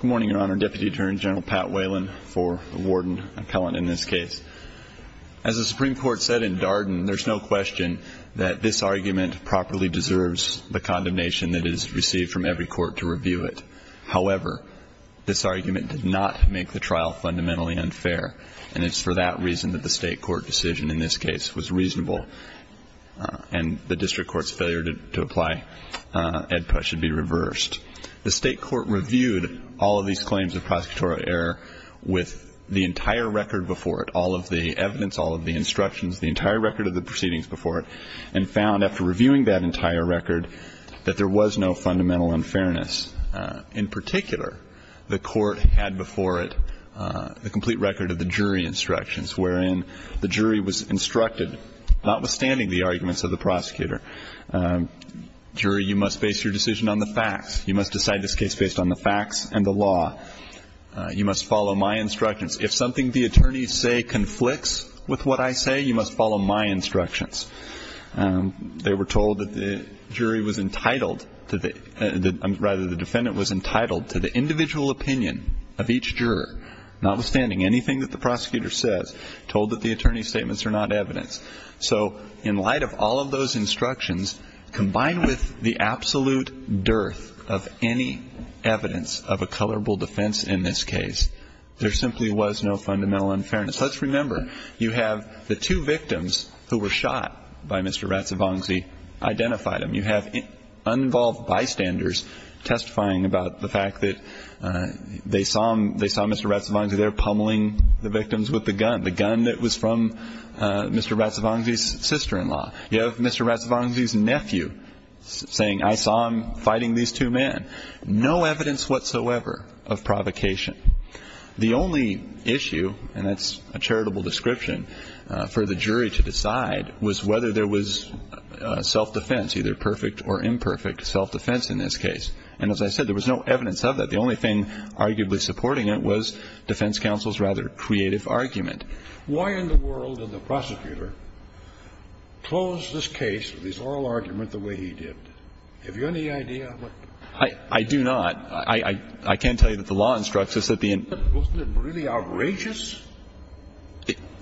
Good morning, Your Honor. Deputy Attorney General Pat Whalen for the Warden-Appellant in this case. As the Supreme Court said in Darden, there's no question that this argument properly deserves the condemnation that it has received from every court to review it. However, this argument did not make the trial fundamentally unfair, and it's for that reason that the state court decision in this case was reasonable, and the district court's failure to apply AEDPA should be reversed. First, the state court reviewed all of these claims of prosecutorial error with the entire record before it, all of the evidence, all of the instructions, the entire record of the proceedings before it, and found after reviewing that entire record that there was no fundamental unfairness. In particular, the court had before it the complete record of the jury instructions, wherein the jury was instructed, notwithstanding the arguments of the prosecutor, jury, you must base your decision on the facts. You must decide this case based on the facts and the law. You must follow my instructions. If something the attorneys say conflicts with what I say, you must follow my instructions. They were told that the jury was entitled to the, rather the defendant was entitled to the individual opinion of each juror, notwithstanding anything that the prosecutor says, told that the attorney's statements are not evidence. So in light of all of those instructions, combined with the absolute dearth of any evidence of a colorable defense in this case, there simply was no fundamental unfairness. Let's remember, you have the two victims who were shot by Mr. Razzavanzi identified them. You have uninvolved bystanders testifying about the fact that they saw Mr. Razzavanzi there pummeling the victims with the gun, the gun that was from Mr. Razzavanzi's sister-in-law. You have Mr. Razzavanzi's nephew saying, I saw him fighting these two men. No evidence whatsoever of provocation. The only issue, and that's a charitable description for the jury to decide, was whether there was self-defense, either perfect or imperfect self-defense in this case. And as I said, there was no evidence of that. But the only thing arguably supporting it was defense counsel's rather creative argument. Why in the world did the prosecutor close this case, this oral argument, the way he did? Do you have any idea? I do not. I can tell you that the law instructs us that the in- Wasn't it really outrageous?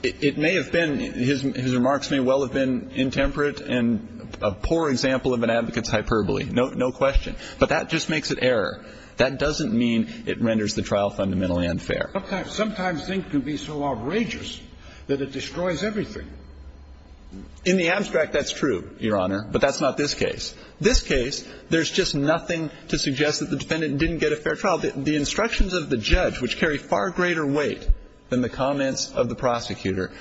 It may have been. His remarks may well have been intemperate and a poor example of an advocate's hyperbole. No question. But that just makes it error. That doesn't mean it renders the trial fundamentally unfair. Sometimes things can be so outrageous that it destroys everything. In the abstract, that's true, Your Honor, but that's not this case. This case, there's just nothing to suggest that the defendant didn't get a fair trial. The instructions of the judge, which carry far greater weight than the comments of the prosecutor,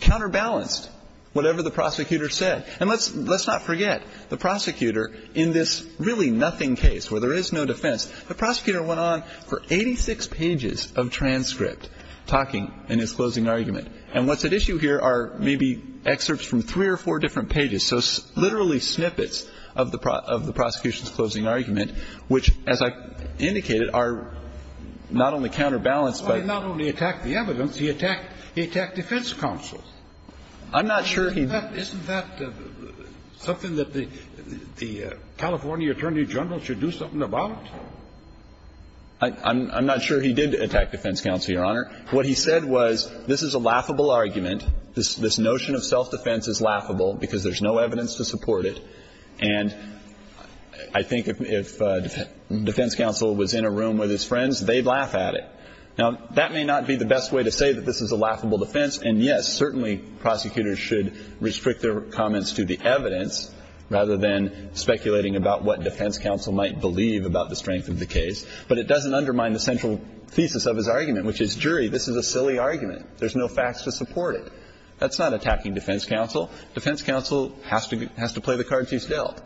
counterbalanced whatever the prosecutor said. And let's not forget, the prosecutor in this really nothing case where there is no defense, the prosecutor went on for 86 pages of transcript talking in his closing argument. And what's at issue here are maybe excerpts from three or four different pages, so literally snippets of the prosecution's closing argument, which, as I indicated, are not only counterbalanced by- He not only attacked the evidence. He attacked defense counsel. I'm not sure he- Isn't that something that the California attorney general should do something about? I'm not sure he did attack defense counsel, Your Honor. What he said was, this is a laughable argument. This notion of self-defense is laughable because there's no evidence to support it. And I think if defense counsel was in a room with his friends, they'd laugh at it. Now, that may not be the best way to say that this is a laughable defense. And, yes, certainly prosecutors should restrict their comments to the evidence rather than speculating about what defense counsel might believe about the strength of the case. But it doesn't undermine the central thesis of his argument, which is, jury, this is a silly argument. There's no facts to support it. That's not attacking defense counsel. Defense counsel has to play the cards he's dealt.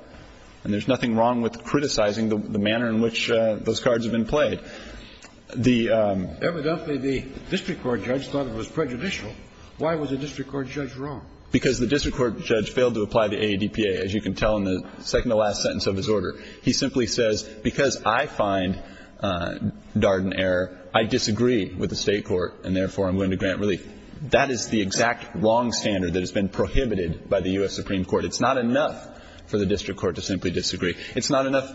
And there's nothing wrong with criticizing the manner in which those cards have been played. But the ---- Evidently, the district court judge thought it was prejudicial. Why was the district court judge wrong? Because the district court judge failed to apply the AADPA, as you can tell in the second-to-last sentence of his order. He simply says, because I find Darden error, I disagree with the State court, and therefore I'm going to grant relief. That is the exact wrong standard that has been prohibited by the U.S. Supreme It's not enough for the district court to simply disagree. It's not enough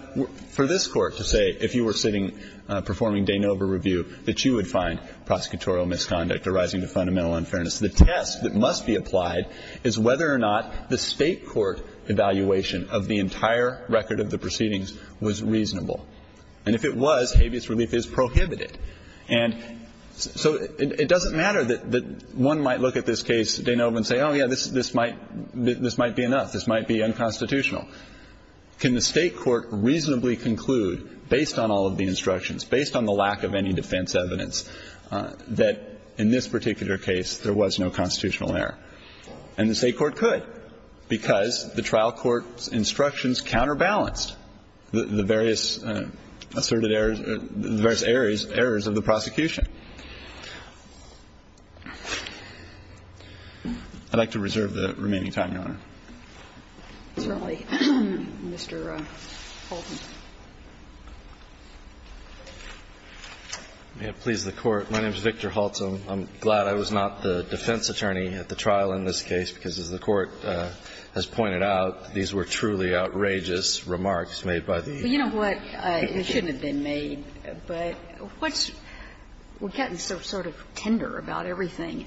for this Court to say, if you were sitting performing de novo review, that you would find prosecutorial misconduct arising from fundamental unfairness. The test that must be applied is whether or not the State court evaluation of the entire record of the proceedings was reasonable. And if it was, habeas relief is prohibited. And so it doesn't matter that one might look at this case de novo and say, oh, yeah, this might be enough. This might be unconstitutional. Can the State court reasonably conclude, based on all of the instructions, based on the lack of any defense evidence, that in this particular case there was no constitutional error? And the State court could, because the trial court's instructions counterbalanced the various asserted errors, the various errors of the prosecution. Thank you, Your Honor. Certainly, Mr. Holtzman. May it please the Court. My name is Victor Holtzman. I'm glad I was not the defense attorney at the trial in this case, because, as the Court has pointed out, these were truly outrageous remarks made by the. But you know what? It shouldn't have been made, but what's we're getting sort of tender about everything.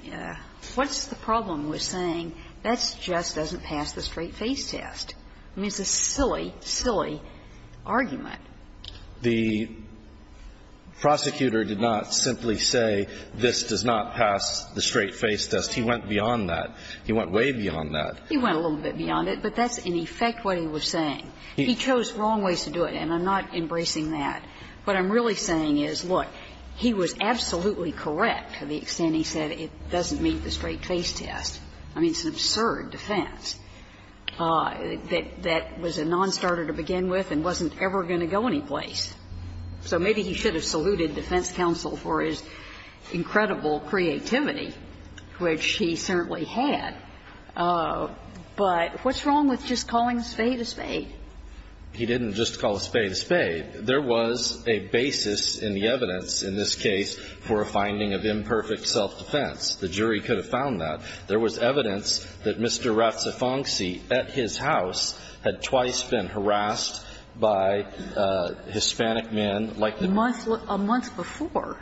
What's the problem with saying that's just doesn't pass the straight-face test? I mean, it's a silly, silly argument. The prosecutor did not simply say this does not pass the straight-face test. He went beyond that. He went way beyond that. He went a little bit beyond it, but that's in effect what he was saying. He chose wrong ways to do it, and I'm not embracing that. What I'm really saying is, look, he was absolutely correct to the extent he said it doesn't meet the straight-face test. I mean, it's an absurd defense. That was a nonstarter to begin with and wasn't ever going to go anyplace. So maybe he should have saluted defense counsel for his incredible creativity, which he certainly had. But what's wrong with just calling a spade a spade? He didn't just call a spade a spade. There was a basis in the evidence in this case for a finding of imperfect self-defense. The jury could have found that. There was evidence that Mr. Razzafonsi, at his house, had twice been harassed by Hispanic men like the one he had. A month before?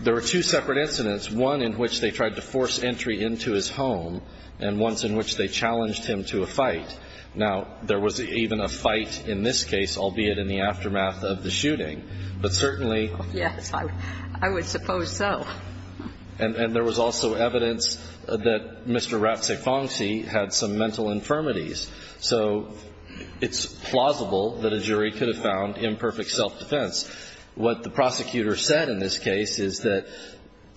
There were two separate incidents, one in which they tried to force entry into his home, and once in which they challenged him to a fight. Now, there was even a fight in this case, albeit in the aftermath of the shooting. But certainly – Yes, I would suppose so. And there was also evidence that Mr. Razzafonsi had some mental infirmities. So it's plausible that a jury could have found imperfect self-defense. What the prosecutor said in this case is that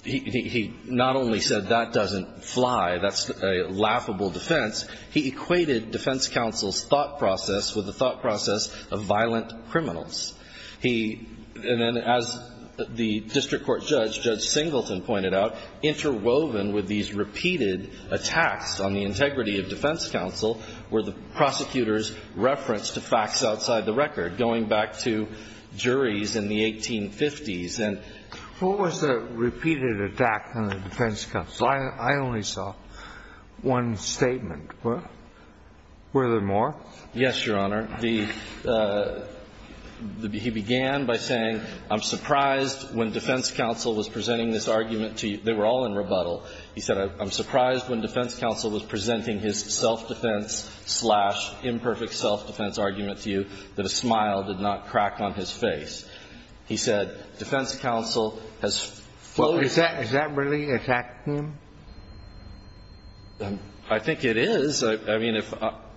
he not only said that doesn't fly, that's a laughable defense, he equated defense counsel's thought process with the thought process of violent criminals. He – and then as the district court judge, Judge Singleton, pointed out, interwoven with these repeated attacks on the integrity of defense counsel were the prosecutor's reference to facts outside the record, going back to juries in the 1850s. What was the repeated attack on the defense counsel? I only saw one statement. Were there more? Yes, Your Honor. The – he began by saying, I'm surprised when defense counsel was presenting this argument to you. They were all in rebuttal. He said, I'm surprised when defense counsel was presenting his self-defense slash imperfect self-defense argument to you that a smile did not crack on his face. He said, defense counsel has floated – Well, is that really attacking him? I think it is. I mean,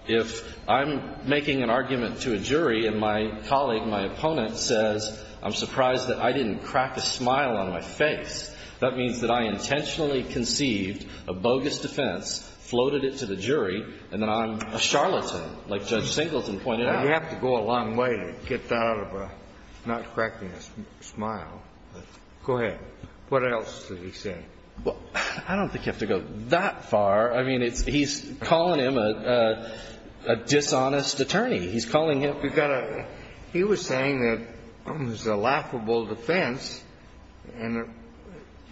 if I'm making an argument to a jury and my colleague, my opponent, says I'm surprised that I didn't crack a smile on my face, that means that I intentionally conceived a bogus defense, floated it to the jury, and then I'm a charlatan, like Judge Singleton pointed out. You have to go a long way to get out of a not cracking a smile. Go ahead. What else did he say? Well, I don't think you have to go that far. I mean, he's calling him a dishonest attorney. He's calling him – He was saying that it was a laughable defense and it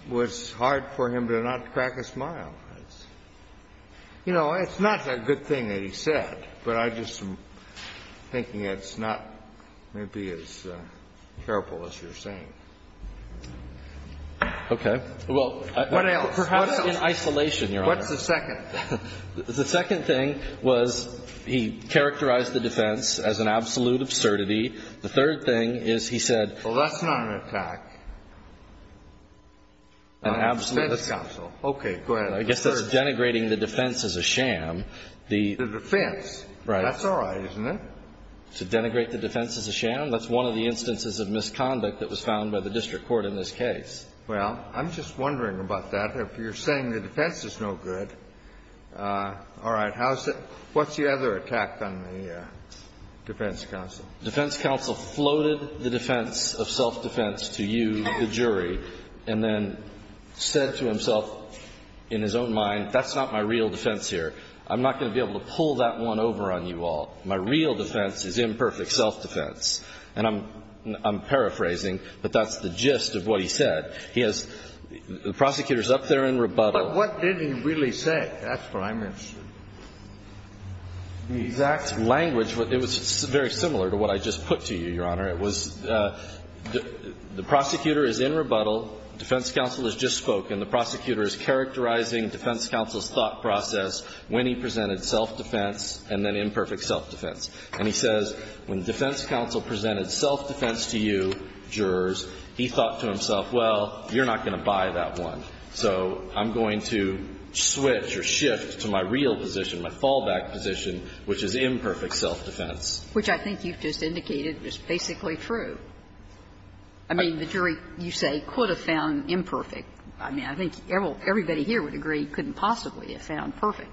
was hard for him to not crack a smile. You know, it's not a good thing that he said, but I just am thinking it's not maybe as terrible as you're saying. Okay. Well – What else? Perhaps in isolation, Your Honor. What's the second? The second thing was he characterized the defense as an absolute absurdity. The third thing is he said – Well, that's not an attack on defense counsel. Okay. Go ahead. I guess that's denigrating the defense as a sham. The defense? Right. That's all right, isn't it? To denigrate the defense as a sham, that's one of the instances of misconduct that was found by the district court in this case. Well, I'm just wondering about that. If you're saying the defense is no good, all right. What's the other attack on the defense counsel? The defense counsel floated the defense of self-defense to you, the jury, and then said to himself in his own mind, that's not my real defense here. I'm not going to be able to pull that one over on you all. My real defense is imperfect self-defense. And I'm paraphrasing, but that's the gist of what he said. He has – the prosecutor is up there in rebuttal. But what did he really say? That's what I'm interested in. The exact language, it was very similar to what I just put to you, Your Honor. It was the prosecutor is in rebuttal. Defense counsel has just spoken. The prosecutor is characterizing defense counsel's thought process when he presented self-defense and then imperfect self-defense. And he says when defense counsel presented self-defense to you, jurors, he thought to himself, well, you're not going to buy that one. So I'm going to switch or shift to my real position, my fallback position, which is imperfect self-defense. Which I think you've just indicated is basically true. I mean, the jury, you say, could have found imperfect. I mean, I think everybody here would agree couldn't possibly have found perfect.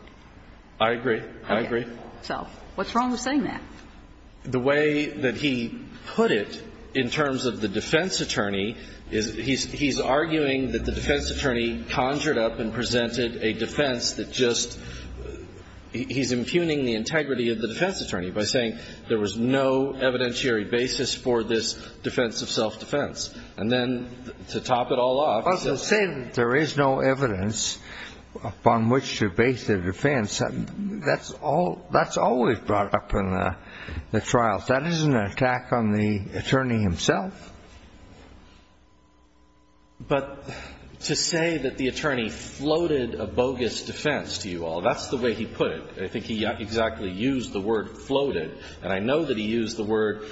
I agree. I agree. So what's wrong with saying that? The way that he put it in terms of the defense attorney is he's arguing that the defense attorney conjured up and presented a defense that just he's impugning the integrity of the defense attorney by saying there was no evidentiary basis for this defense of self-defense. And then to top it all off. Well, to say there is no evidence upon which to base a defense, that's always brought up in the trials. That isn't an attack on the attorney himself. But to say that the attorney floated a bogus defense to you all, that's the way he put it. I think he exactly used the word floated. And I know that he used the word,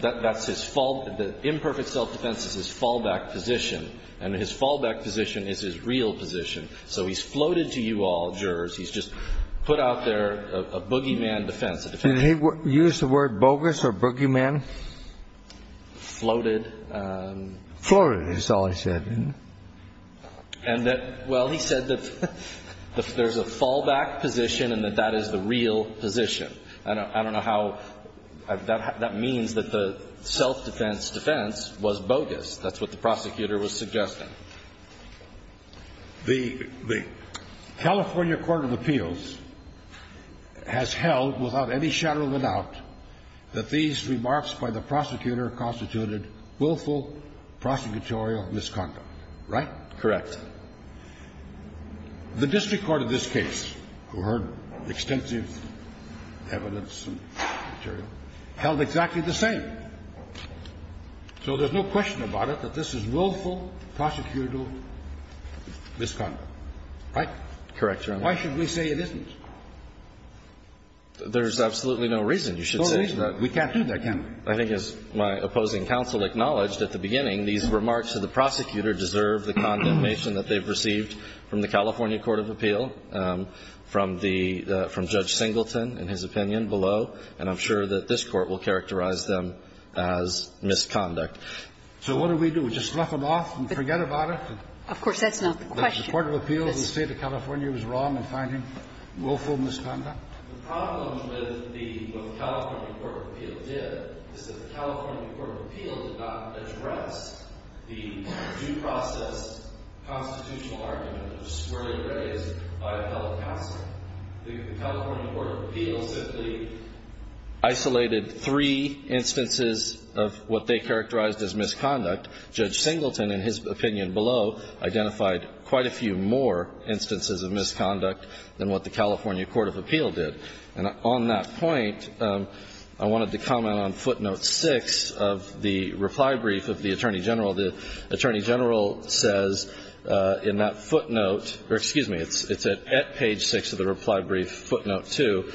that's his fallback. The imperfect self-defense is his fallback position. And his fallback position is his real position. So he's floated to you all, jurors. He's just put out there a boogeyman defense. Did he use the word bogus or boogeyman? Floated. Floated is all he said. And that, well, he said that there's a fallback position and that that is the real position. I don't know how, that means that the self-defense defense was bogus. That's what the prosecutor was suggesting. The California Court of Appeals has held without any shadow of a doubt that these remarks by the prosecutor constituted willful prosecutorial misconduct, right? Correct. The district court of this case, who heard extensive evidence and material, held exactly the same. So there's no question about it that this is willful prosecutorial misconduct. Right? Correct, Your Honor. Why should we say it isn't? There's absolutely no reason you should say that. No reason. We can't do that, can we? I think as my opposing counsel acknowledged at the beginning, these remarks to the prosecutor deserve the condemnation that they've received from the California Court of Appeal, from the Judge Singleton in his opinion below, and I'm sure that this Court will characterize them as misconduct. So what do we do? Just fluff them off and forget about it? Of course, that's not the question. The Court of Appeals in the State of California was wrong in finding willful misconduct? The problem with what the California Court of Appeals did is that the California Court of Appeals did not address the due process constitutional argument that was squarely raised by a fellow counsel. The California Court of Appeals simply isolated three instances of what they characterized as misconduct. Judge Singleton in his opinion below identified quite a few more instances of misconduct than what the California Court of Appeal did. And on that point, I wanted to comment on footnote 6 of the reply brief of the Attorney General. The Attorney General says in that footnote, or excuse me, it's at page 6 of the reply brief footnote 2,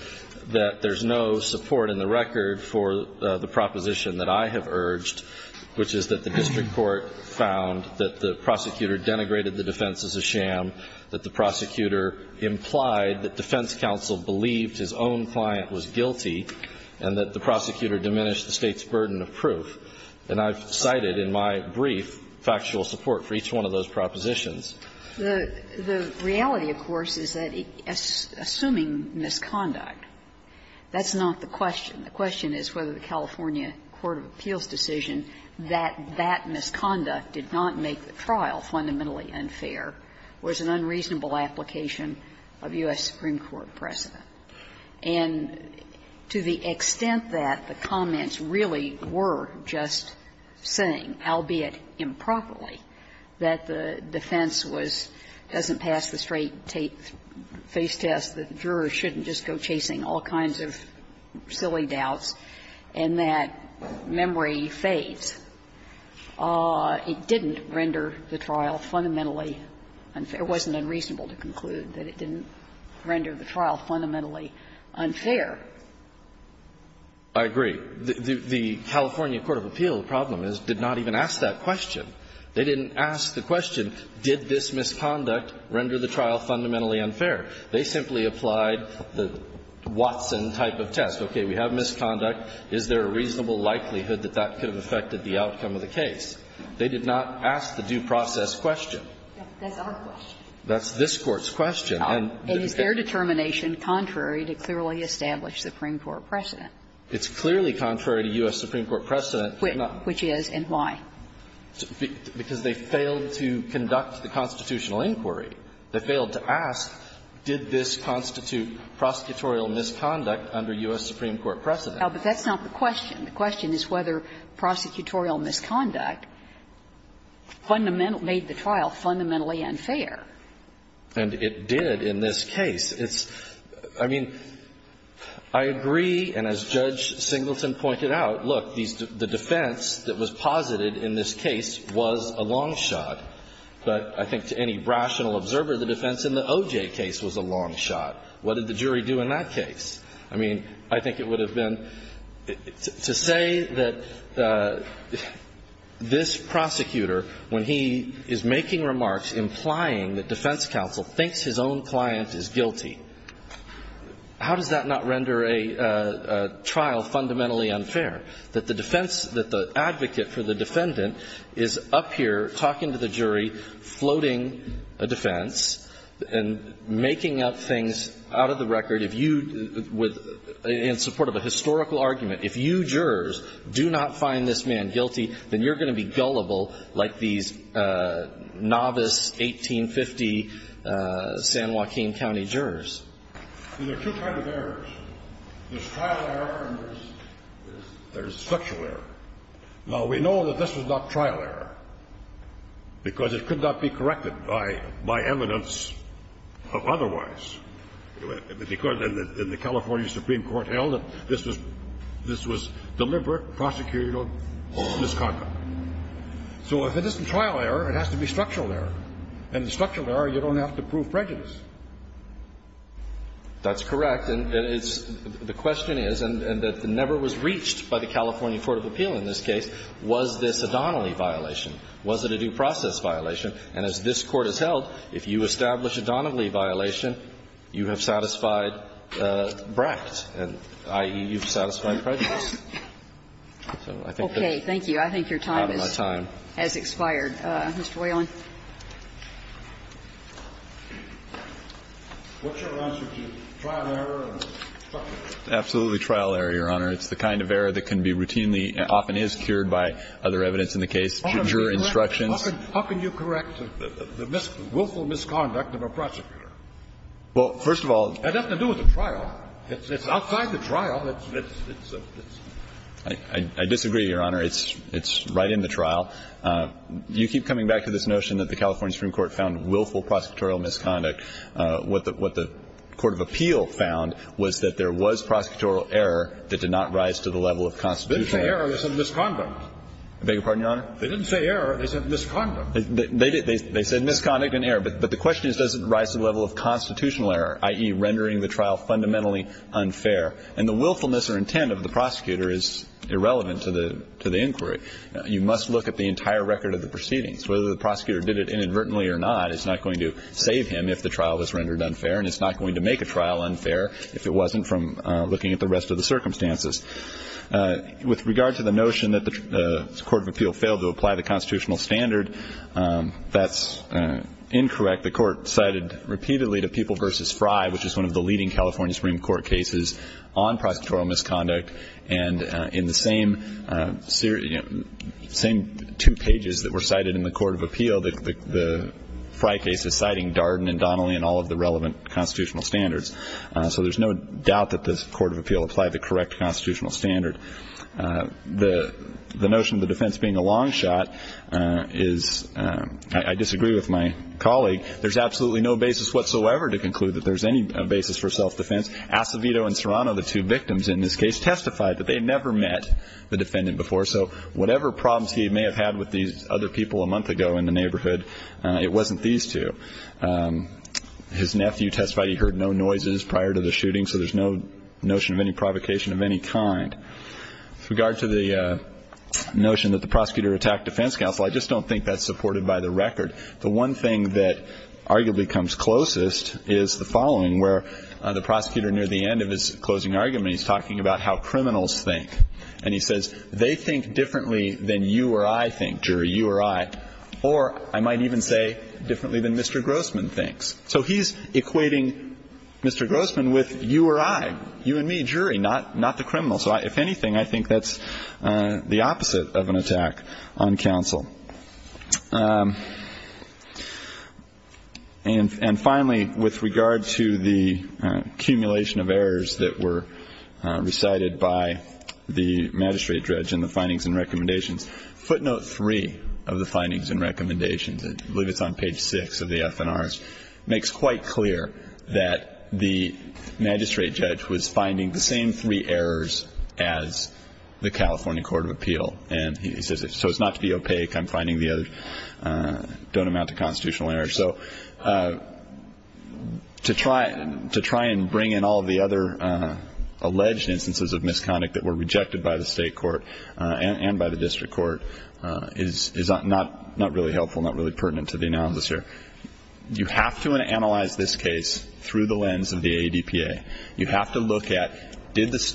that there's no support in the record for the proposition that I have urged, which is that the district court found that the prosecutor denigrated the defense as a sham, that the prosecutor implied that defense counsel believed his own client was guilty, and that the prosecutor diminished the State's burden of proof. And I've cited in my brief factual support for each one of those propositions. The reality, of course, is that assuming misconduct, that's not the question. The question is whether the California Court of Appeals' decision that that misconduct did not make the trial fundamentally unfair was an unreasonable application of U.S. Supreme Court precedent. And to the extent that the comments really were just saying, albeit improperly, that the defense was doesn't pass the straight-face test, that jurors shouldn't just go chasing all kinds of silly doubts, and that memory fades, it didn't render the trial fundamentally unfair. It wasn't unreasonable to conclude that it didn't render the trial fundamentally unfair. I agree. The California Court of Appeals' problem is did not even ask that question. They didn't ask the question, did this misconduct render the trial fundamentally unfair? They simply applied the Watson type of test. Okay. We have misconduct. Is there a reasonable likelihood that that could have affected the outcome of the case? They did not ask the due process question. That's our question. That's this Court's question. And is their determination contrary to clearly established Supreme Court precedent? It's clearly contrary to U.S. Supreme Court precedent. Which is, and why? Because they failed to conduct the constitutional inquiry. They failed to ask, did this constitute prosecutorial misconduct under U.S. Supreme Court precedent? But that's not the question. The question is whether prosecutorial misconduct fundamentally made the trial fundamentally unfair. And it did in this case. It's, I mean, I agree, and as Judge Singleton pointed out, look, the defense that was posited in this case was a long shot. But I think to any rational observer, the defense in the OJ case was a long shot. What did the jury do in that case? I mean, I think it would have been, to say that this prosecutor, when he is making remarks implying that defense counsel thinks his own client is guilty, how does that not render a trial fundamentally unfair? That the defense, that the advocate for the defendant is up here talking to the jury, floating a defense, and making up things out of the record, if you, with, in support of a historical argument, if you jurors do not find this man guilty, then you're going to be gullible like these novice 1850 San Joaquin County jurors. And there are two kinds of errors. There's trial error and there's structural error. Now, we know that this was not trial error because it could not be corrected by evidence of otherwise. Because in the California Supreme Court held that this was deliberate prosecutorial misconduct. So if it isn't trial error, it has to be structural error. And in structural error, you don't have to prove prejudice. That's correct. And it's the question is, and that never was reached by the California Court of Appeal in this case, was this a Donnelly violation? Was it a due process violation? And as this Court has held, if you establish a Donnelly violation, you have satisfied Brecht, i.e., you've satisfied prejudice. So I think that's out of my time. Kagan. Thank you. I think your time has expired. Mr. Whelan. What's your answer to trial error and structural error? Absolutely trial error, Your Honor. It's the kind of error that can be routinely, often is cured by other evidence in the case, juror instructions. How can you correct the willful misconduct of a prosecutor? Well, first of all. That has nothing to do with the trial. It's outside the trial. I disagree, Your Honor. It's right in the trial. You keep coming back to this notion that the California Supreme Court found willful prosecutorial misconduct. What the Court of Appeal found was that there was prosecutorial error that did not rise to the level of constitutional error. They didn't say error. They said misconduct. I beg your pardon, Your Honor? They didn't say error. They said misconduct. They did. They said misconduct and error. But the question is, does it rise to the level of constitutional error, i.e., rendering the trial fundamentally unfair? And the willfulness or intent of the prosecutor is irrelevant to the inquiry. You must look at the entire record of the proceedings. Whether the prosecutor did it inadvertently or not is not going to save him if the trial was rendered unfair, and it's not going to make a trial unfair if it wasn't from looking at the rest of the circumstances. With regard to the notion that the Court of Appeal failed to apply the constitutional standard, that's incorrect. The Court cited repeatedly to People v. Fry, which is one of the leading California Supreme Court cases, on prosecutorial misconduct. And in the same two pages that were cited in the Court of Appeal, the Fry case is citing Darden and Donnelly and all of the relevant constitutional standards. So there's no doubt that the Court of Appeal applied the correct constitutional standard. The notion of the defense being a long shot is, I disagree with my colleague, there's absolutely no basis whatsoever to conclude that there's any basis for self-defense. Acevedo and Serrano, the two victims in this case, testified that they had never met the defendant before, so whatever problems he may have had with these other people a month ago in the neighborhood, it wasn't these two. His nephew testified he heard no noises prior to the shooting, so there's no notion of any provocation of any kind. With regard to the notion that the prosecutor attacked defense counsel, I just don't think that's supported by the record. The one thing that arguably comes closest is the following, where the prosecutor near the end of his closing argument, he's talking about how criminals think. And he says, they think differently than you or I think, jury, you or I, or I might even say differently than Mr. Grossman thinks. So he's equating Mr. Grossman with you or I, you and me, jury, not the criminal. So if anything, I think that's the opposite of an attack on counsel. And finally, with regard to the accumulation of errors that were recited by the magistrate judge in the findings and recommendations, footnote three of the findings and recommendations, I believe it's on page six of the FNRs, makes quite clear that the magistrate judge was finding the same three errors as the California Court of Appeal. And he says, so it's not to be opaque. I'm finding the other don't amount to constitutional errors. So to try and bring in all of the other alleged instances of misconduct that were rejected by the state court and by the district court is not really helpful, not really pertinent to the analysis here. You have to analyze this case through the lens of the ADPA. You have to look at,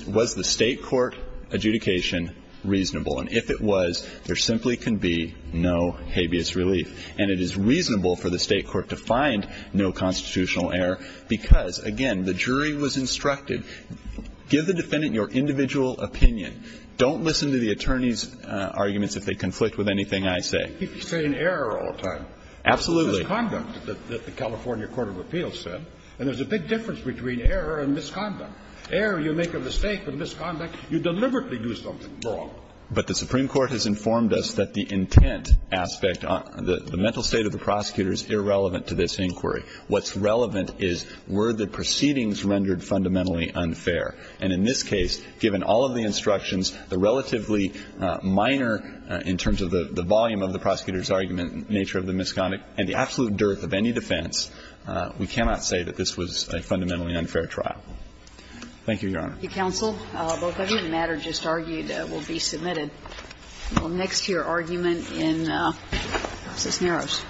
was the state court adjudication reasonable? And if it was, there simply can be no habeas relief. And it is reasonable for the state court to find no constitutional error because, again, the jury was instructed, give the defendant your individual opinion. Don't listen to the attorney's arguments if they conflict with anything I say. He's saying error all the time. Absolutely. It's misconduct that the California Court of Appeal said. And there's a big difference between error and misconduct. Error, you make a mistake with misconduct, you deliberately do something wrong. But the Supreme Court has informed us that the intent aspect, the mental state of the prosecutor is irrelevant to this inquiry. What's relevant is, were the proceedings rendered fundamentally unfair? And in this case, given all of the instructions, the relatively minor, in terms of the volume of the prosecutor's argument, nature of the misconduct, and the absolute dearth of any defense, we cannot say that this was a fundamentally unfair trial. Thank you, Your Honor. Thank you, counsel. Both of you. The matter just argued will be submitted. Next to your argument in Cisneros.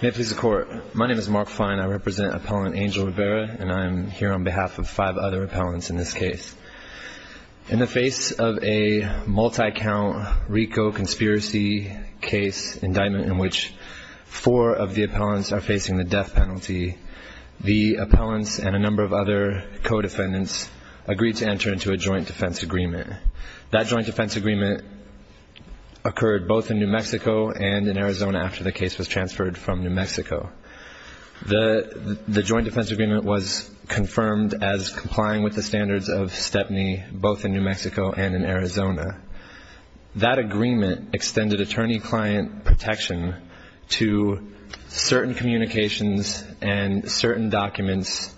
May it please the Court. My name is Mark Fine. I represent Appellant Angel Rivera, and I'm here on behalf of five other appellants in this case. In the face of a multi-count RICO conspiracy case indictment in which four of the appellants are facing the death penalty, the appellants and a number of other co-defendants agreed to enter into a joint defense agreement. That joint defense agreement occurred both in New Mexico and in Arizona after the case was transferred from New Mexico. The joint defense agreement was confirmed as complying with the standards of Stepney, both in New Mexico and in Arizona. That agreement extended attorney-client protection to certain communications and certain documents.